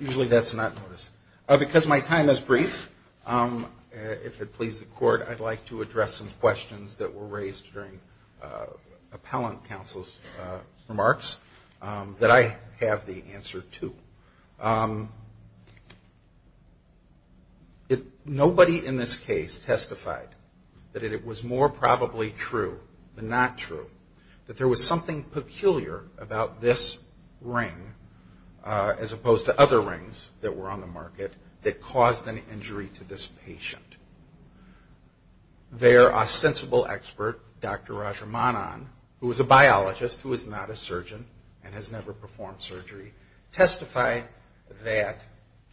Usually that's not noticed. Because my time is brief, if it pleases the Court, I'd like to address some questions that were raised during appellant counsel's remarks that I have the answer to. Nobody in this case testified that it was more probably true than not true that there was something peculiar about this ring, as opposed to other rings that were on the market, that caused an injury to this patient. There, a sensible expert, Dr. Rajamanan, who is a biologist, who is not a surgeon, and has never performed surgery, testified that,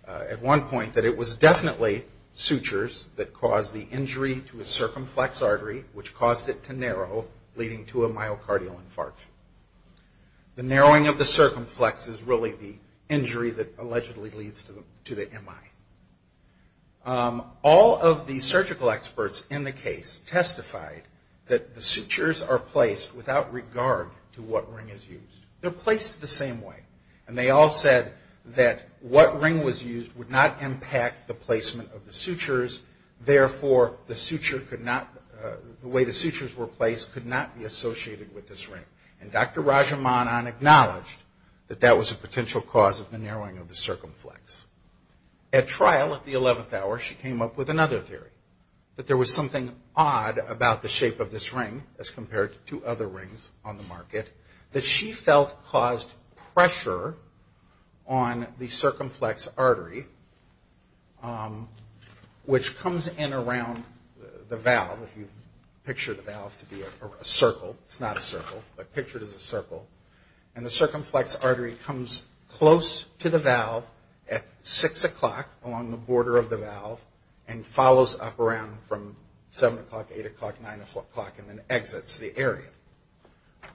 at one point, that it was definitely sutures that caused the injury to his circumflex artery, which caused it to narrow, leading to a myocardial infarction. The narrowing of the circumflex is really the injury that allegedly leads to the MI. All of the surgical experts in the case testified that the sutures are placed without regard to what ring is used. They're placed the same way, and they all said that what ring was used would not impact the placement of the sutures. Therefore, the way the sutures were placed could not be associated with this ring. And Dr. Rajamanan acknowledged that that was a potential cause of the narrowing of the circumflex. At trial, at the 11th hour, she came up with another theory, that there was something odd about the shape of this ring, as compared to other rings on the market, that she felt caused pressure on the circumflex artery, which comes in around the valve, if you picture the valve to be a circle. It's not a circle, but picture it as a circle. And the circumflex artery comes close to the valve at 6 o'clock, along the border of the valve, and follows up around from 7 o'clock, 8 o'clock, 9 o'clock, and then exits the area.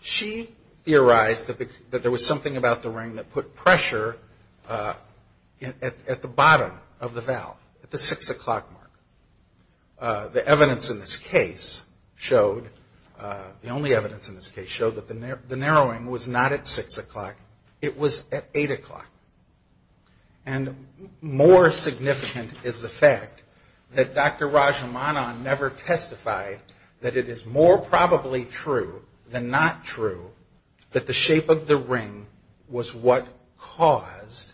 She theorized that there was something about the ring that put pressure at the bottom of the valve, at the 6 o'clock mark. The evidence in this case showed, the only evidence in this case, showed that the narrowing was not at 6 o'clock, it was at 8 o'clock. And more significant is the fact that Dr. Rajamanan never testified that it is more probably true than not true, that the shape of the ring was what caused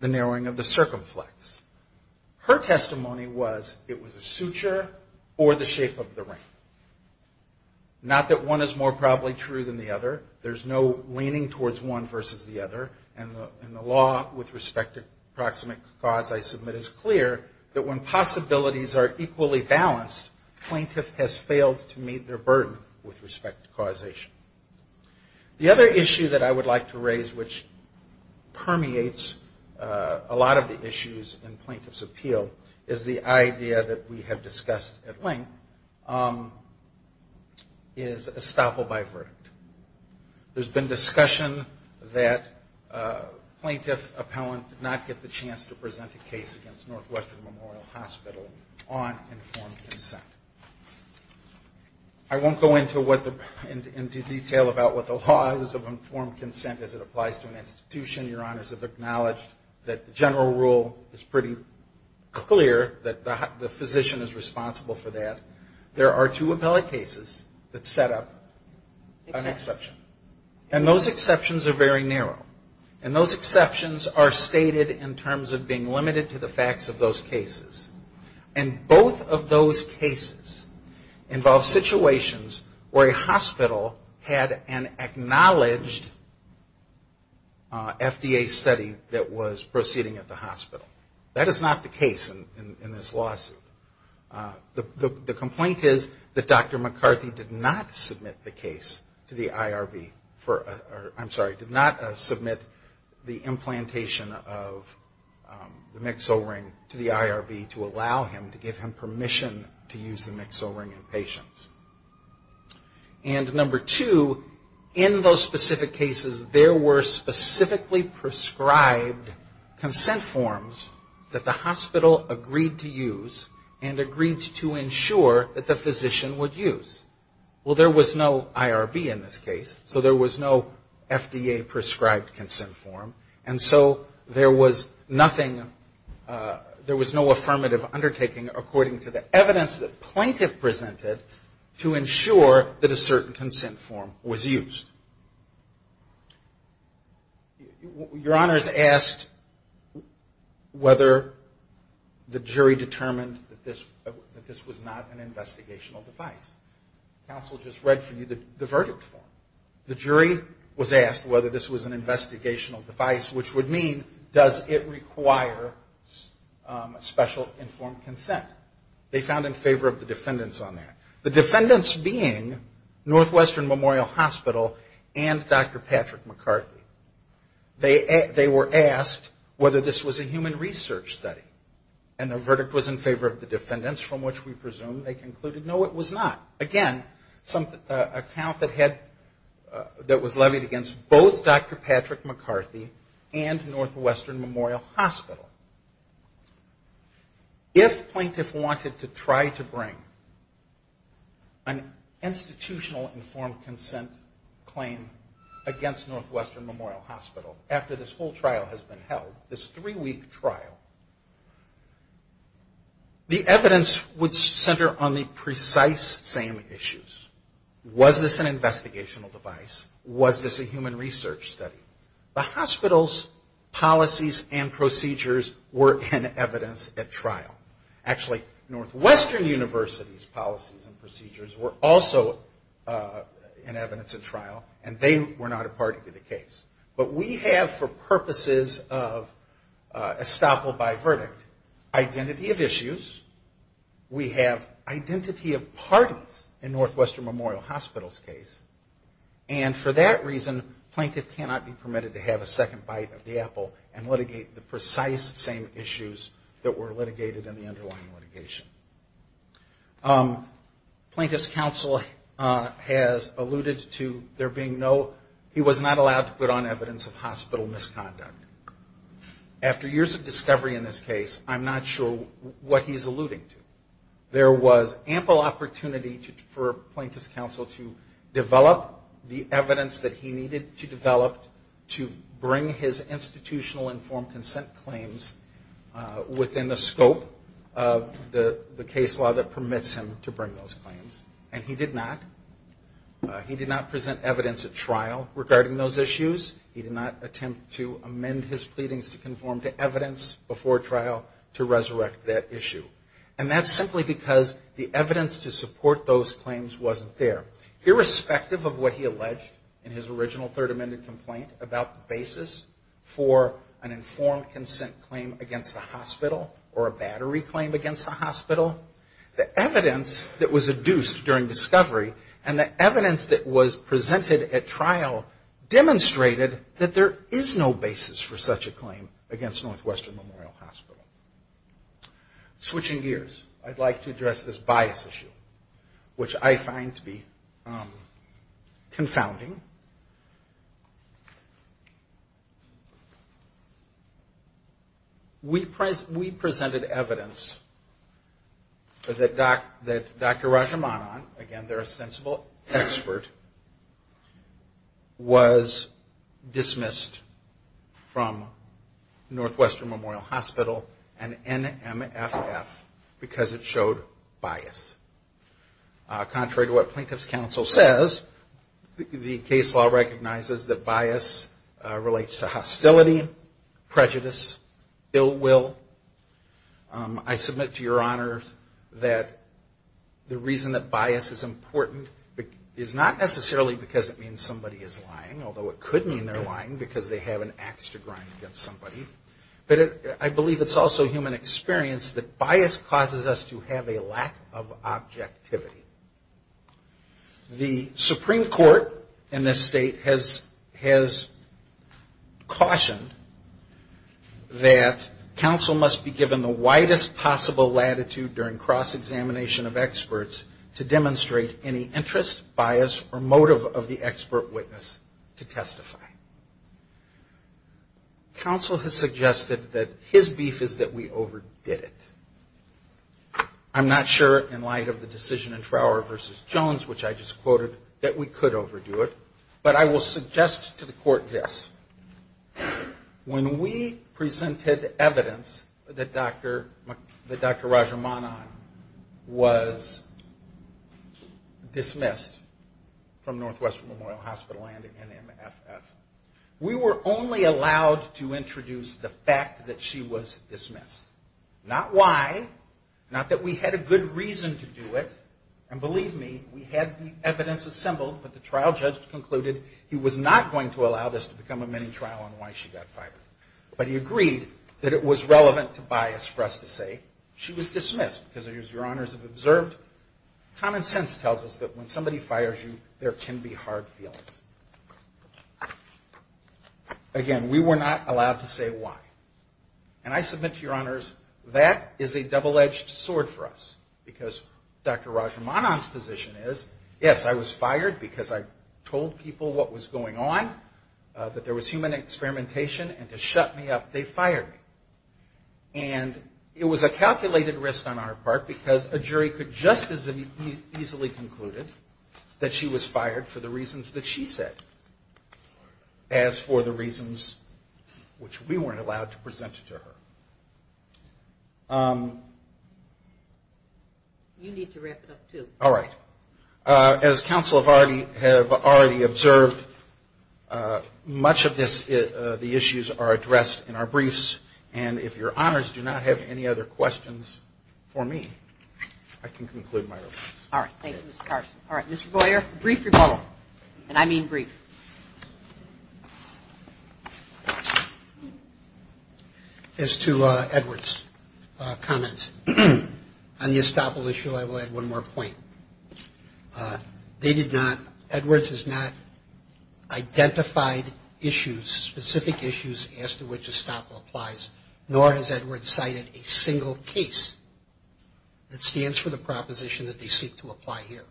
the narrowing of the circumflex. Her testimony was, it was a suture, or the shape of the ring. Not that one is more probably true than the other. There's no leaning towards one versus the other. And the law with respect to proximate cause I submit is clear, that when possibilities are equally balanced, plaintiff has failed to meet their burden with respect to causation. The other issue that I would like to raise, which permeates a lot of the issues in plaintiff's appeal, is the idea that we have discussed at length, is estoppel by verdict. There's been discussion that plaintiff appellant did not get the chance to present a case against Northwestern Memorial Hospital on informed consent. I won't go into detail about what the laws of informed consent as it applies to an institution. Your honors have acknowledged that the general rule is pretty clear that the physician is responsible for that. There are two appellate cases that set up an exception. And those exceptions are very narrow. And those exceptions are stated in terms of being limited to the facts of those cases. And both of those cases involve situations where a hospital had an acknowledged FDA study that was proceeding at the hospital. That is not the case in this lawsuit. The complaint is that Dr. McCarthy did not submit the case to the IRB for, I'm sorry, did not submit the implantation of the Mix-O-Ring to the IRB to allow him, to give him permission to use the Mix-O-Ring in patients. And number two, in those specific cases, there were specifically prescribed consent forms that the hospital agreed to use and agreed to ensure that the physician would use. Well, there was no IRB in this case, so there was no FDA prescribed consent form. And so there was nothing, there was no affirmative undertaking according to the evidence that plaintiff presented to ensure that a certain consent form was used. Your honors asked whether the jury determined that this was not an investigational device. Counsel just read for you the verdict form. They found in favor of the defendants on that. The defendants being Northwestern Memorial Hospital and Dr. Patrick McCarthy. They were asked whether this was a human research study. And the verdict was in favor of the defendants, from which we presume they concluded no, it was not. Again, an account that had, that was levied against both Dr. Patrick McCarthy and Dr. Patrick McCarthy. And Northwestern Memorial Hospital. If plaintiff wanted to try to bring an institutional informed consent claim against Northwestern Memorial Hospital after this whole trial has been held, this three-week trial, the evidence would center on the precise same issues. Was this an investigational device? Was this a human research study? The hospital's policies and procedures were in evidence at trial. Actually, Northwestern University's policies and procedures were also in evidence at trial, and they were not a part of the case. But we have for purposes of estoppel by verdict, identity of issues, we have identity of parties in Northwestern Memorial Hospital. And for that reason, plaintiff cannot be permitted to have a second bite of the apple and litigate the precise same issues that were litigated in the underlying litigation. Plaintiff's counsel has alluded to there being no, he was not allowed to put on evidence of hospital misconduct. After years of discovery in this case, I'm not sure what he's alluding to. There was ample opportunity for plaintiff's counsel to develop the evidence that he needed to develop to bring his institutional informed consent claims within the scope of the case law that permits him to bring those claims. And he did not. He did not present evidence at trial regarding those issues. He did not attempt to amend his pleadings to conform to evidence before trial to resurrect that issue. And that's simply because the evidence to support those claims wasn't there. Irrespective of what he alleged in his original third amended complaint about the basis for an informed consent claim against the hospital or a battery claim against the hospital, the evidence that was adduced during discovery and the evidence that was presented at trial demonstrated that there is no basis for such a claim against Northwestern Memorial Hospital. Switching gears, I'd like to address this bias issue, which I find to be confounding. We presented evidence that Dr. Rajamanan, again, they're a sensible expert, was dismissed from Northwestern Memorial Hospital. And NMFF, because it showed bias. Contrary to what plaintiff's counsel says, the case law recognizes that bias relates to hostility, prejudice, ill will. I submit to your honors that the reason that bias is important is not necessarily because it means somebody is lying, although it could mean they're lying because they have an ax to grind against somebody. But I believe it's also human experience that bias causes us to have a lack of objectivity. The Supreme Court in this state has cautioned that counsel must be given the widest possible latitude during cross-examination of experts to demonstrate any interest, bias, or motive of the expert witness to testify. Counsel has suggested that his beef is that we overdid it. I'm not sure in light of the decision in Trower v. Jones, which I just quoted, that we could overdo it. But I will suggest to the court this. When we presented evidence that Dr. Rajamanan was dismissed from Northwestern Memorial Hospital and NMFF, we were only allowed to introduce the fact that she was dismissed. Not why. Not that we had a good reason to do it. And believe me, we had the evidence assembled, but the trial judge concluded he was not going to allow this to become a mini-trial on why she got fired. But he agreed that it was relevant to us to say she was dismissed because, as your honors have observed, common sense tells us that when somebody fires you, there can be hard feelings. Again, we were not allowed to say why. And I submit to your honors, that is a double-edged sword for us because Dr. Rajamanan's position is, yes, I was fired because I told people what was going on, that there was human behavior, but it was a calculated risk on our part because a jury could just as easily conclude that she was fired for the reasons that she said as for the reasons which we weren't allowed to present to her. You need to wrap it up, too. All right. As counsel have already observed, much of the issues are addressed in our briefs. And if your honors do not have any other questions for me, I can conclude my remarks. All right. Thank you, Mr. Carson. All right. Mr. Boyer, brief your call. And I mean brief. As to Edward's comments on the Estoppel issue, I will add one more point. They did not, Edward's has not identified issues, specific issues, as to which Estoppel applies, nor has Edward cited a single case that stands for the proposition that they seek to apply here.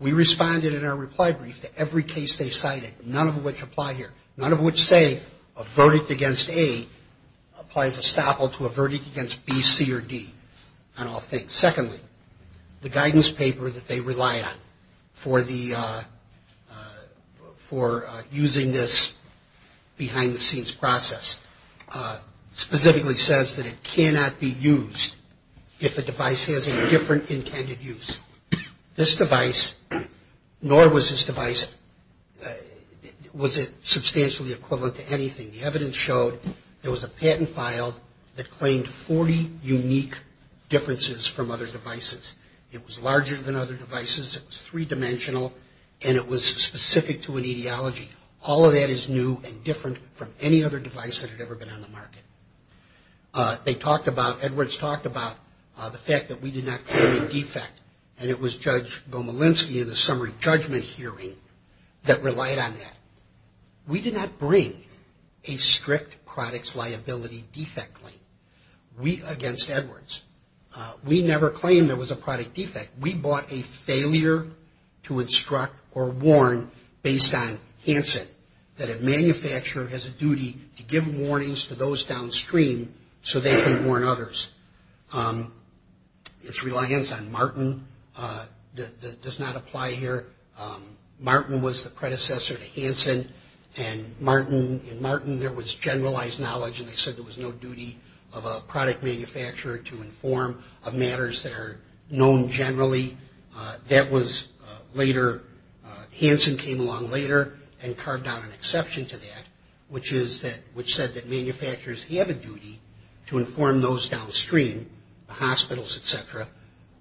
We responded in our reply brief to every case they cited, none of which apply here, none of which say a verdict against A applies Estoppel to a verdict against B, C, or D on all things. Secondly, the guidance paper that they rely on for the, for using this as a basis for their case, the guidance paper that they rely on, behind the scenes process, specifically says that it cannot be used if the device has a different intended use. This device, nor was this device, was it substantially equivalent to anything. The evidence showed there was a patent filed that claimed 40 unique differences from other devices. It was larger than other devices, it was three dimensional, and it was specific to an etiology. All of that is new and different from any other device that had ever been on the market. They talked about, Edward's talked about the fact that we did not claim a defect, and it was Judge Gomelinsky in the summary judgment hearing that relied on that. We did not bring a strict products liability defect claim. We, against Edward's, we never claimed there was a product defect. We brought a failure to instruct or warn based on Hansen, that a manufacturer has a duty to give warnings to those downstream, so they can warn others. It's reliance on Martin does not apply here. Martin was the predecessor to Hansen, and Martin, in Martin there was generalized knowledge, and they said there was no duty of a product manufacturer to inform of matters that are known generally. That was later, Hansen came along later and carved out an exception to that, which is that, which said that manufacturers have a duty to inform those downstream, the hospitals, et cetera,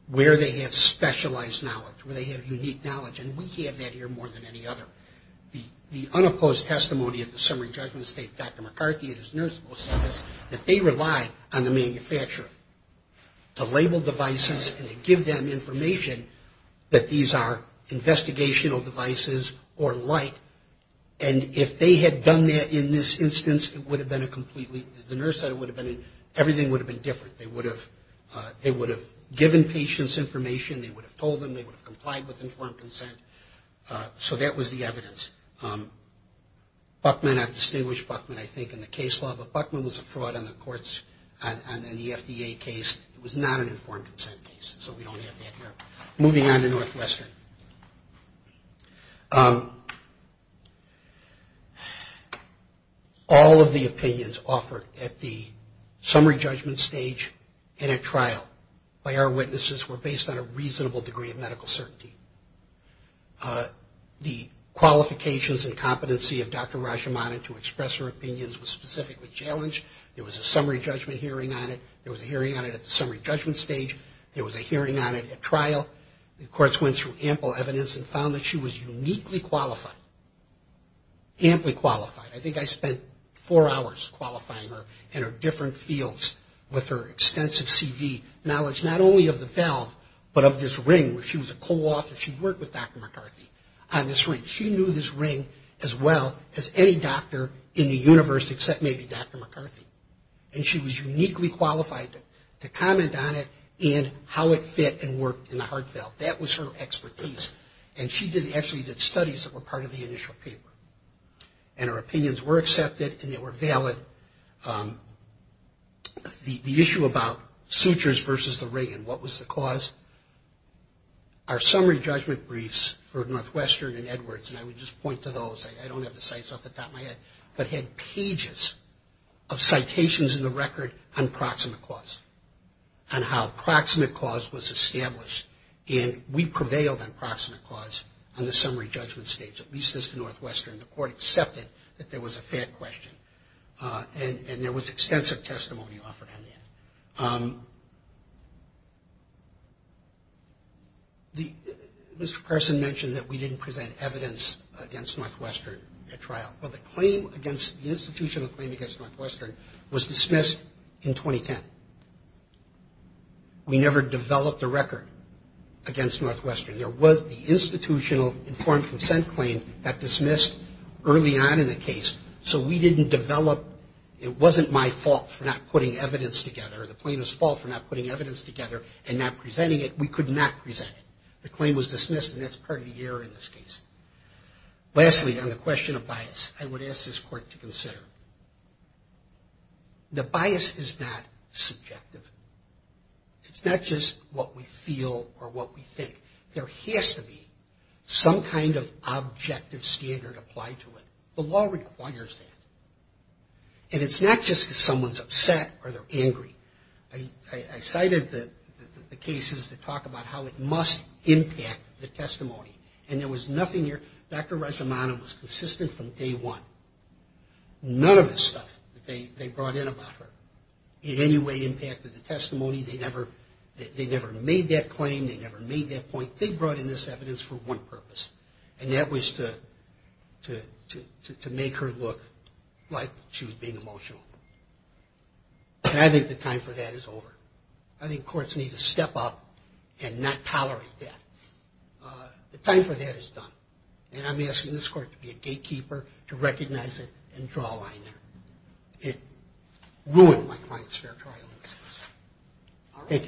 where they have specialized knowledge, where they have unique knowledge, and we have that here more than any other. The unopposed testimony of the summary judgment state, Dr. McCarthy and his nurse will say this, that they rely on the manufacturer to label devices and to give them information that these are investigational devices or like, and if they had done that in this instance, it would have been a completely, the nurse said it would have been, everything would have been different. They would have given patients information, they would have told them, they would have complied with informed consent, so that was the evidence. Buckman, I've distinguished Buckman, I think, in the case law, but Buckman was a fraud on the courts, on the FDA case. It was not an informed consent case, so we don't have that here. Moving on to Northwestern. All of the opinions offered at the summary judgment stage in a trial by our witnesses were based on a reasonable degree of medical certainty. The qualifications of the testimonies were based on a reasonable degree of medical certainty. The evidence and competency of Dr. Rashomon to express her opinions was specifically challenged. There was a summary judgment hearing on it. There was a hearing on it at the summary judgment stage. There was a hearing on it at trial. The courts went through ample evidence and found that she was uniquely qualified, amply qualified. I think I spent four hours qualifying her in her different fields with her extensive CV knowledge, not only of the valve, but of this ring, where she was a co-author. She worked with Dr. Rashomon as well as any doctor in the universe except maybe Dr. McCarthy. And she was uniquely qualified to comment on it and how it fit and worked in the heart valve. That was her expertise. And she actually did studies that were part of the initial paper. And her opinions were accepted and they were valid. The issue about sutures versus the ring and what was the cause, our summary judgment briefs for those, I don't have the sites off the top of my head, but had pages of citations in the record on proximate cause and how proximate cause was established. And we prevailed on proximate cause on the summary judgment stage, at least as the Northwestern. The court accepted that there was a fair question. And there was extensive testimony offered on that. Mr. Carson mentioned that we didn't present evidence against Northwestern at trial. Well, the claim against, the institutional claim against Northwestern was dismissed in 2010. We never developed a record against Northwestern. There was the institutional informed consent claim that dismissed early on in the case. So we didn't develop, it wasn't my fault for not putting evidence together or the plaintiff's fault for not putting evidence together and not putting evidence together. Lastly, on the question of bias, I would ask this court to consider. The bias is not subjective. It's not just what we feel or what we think. There has to be some kind of objective standard applied to it. The law requires that. And it's not just if someone's upset or they're angry. I cited the cases that talk about how it must impact the testimony. And there was nothing that was consistent from day one. None of the stuff that they brought in about her in any way impacted the testimony. They never made that claim. They never made that point. They brought in this evidence for one purpose. And that was to make her look like she was being emotional. And I think the time for that is over. I think courts need to step up and not tolerate that. The time for that is done. And I'm asking this court to be a gatekeeper, to recognize it, and draw a line there. It ruined my client's territorial innocence. Thank you.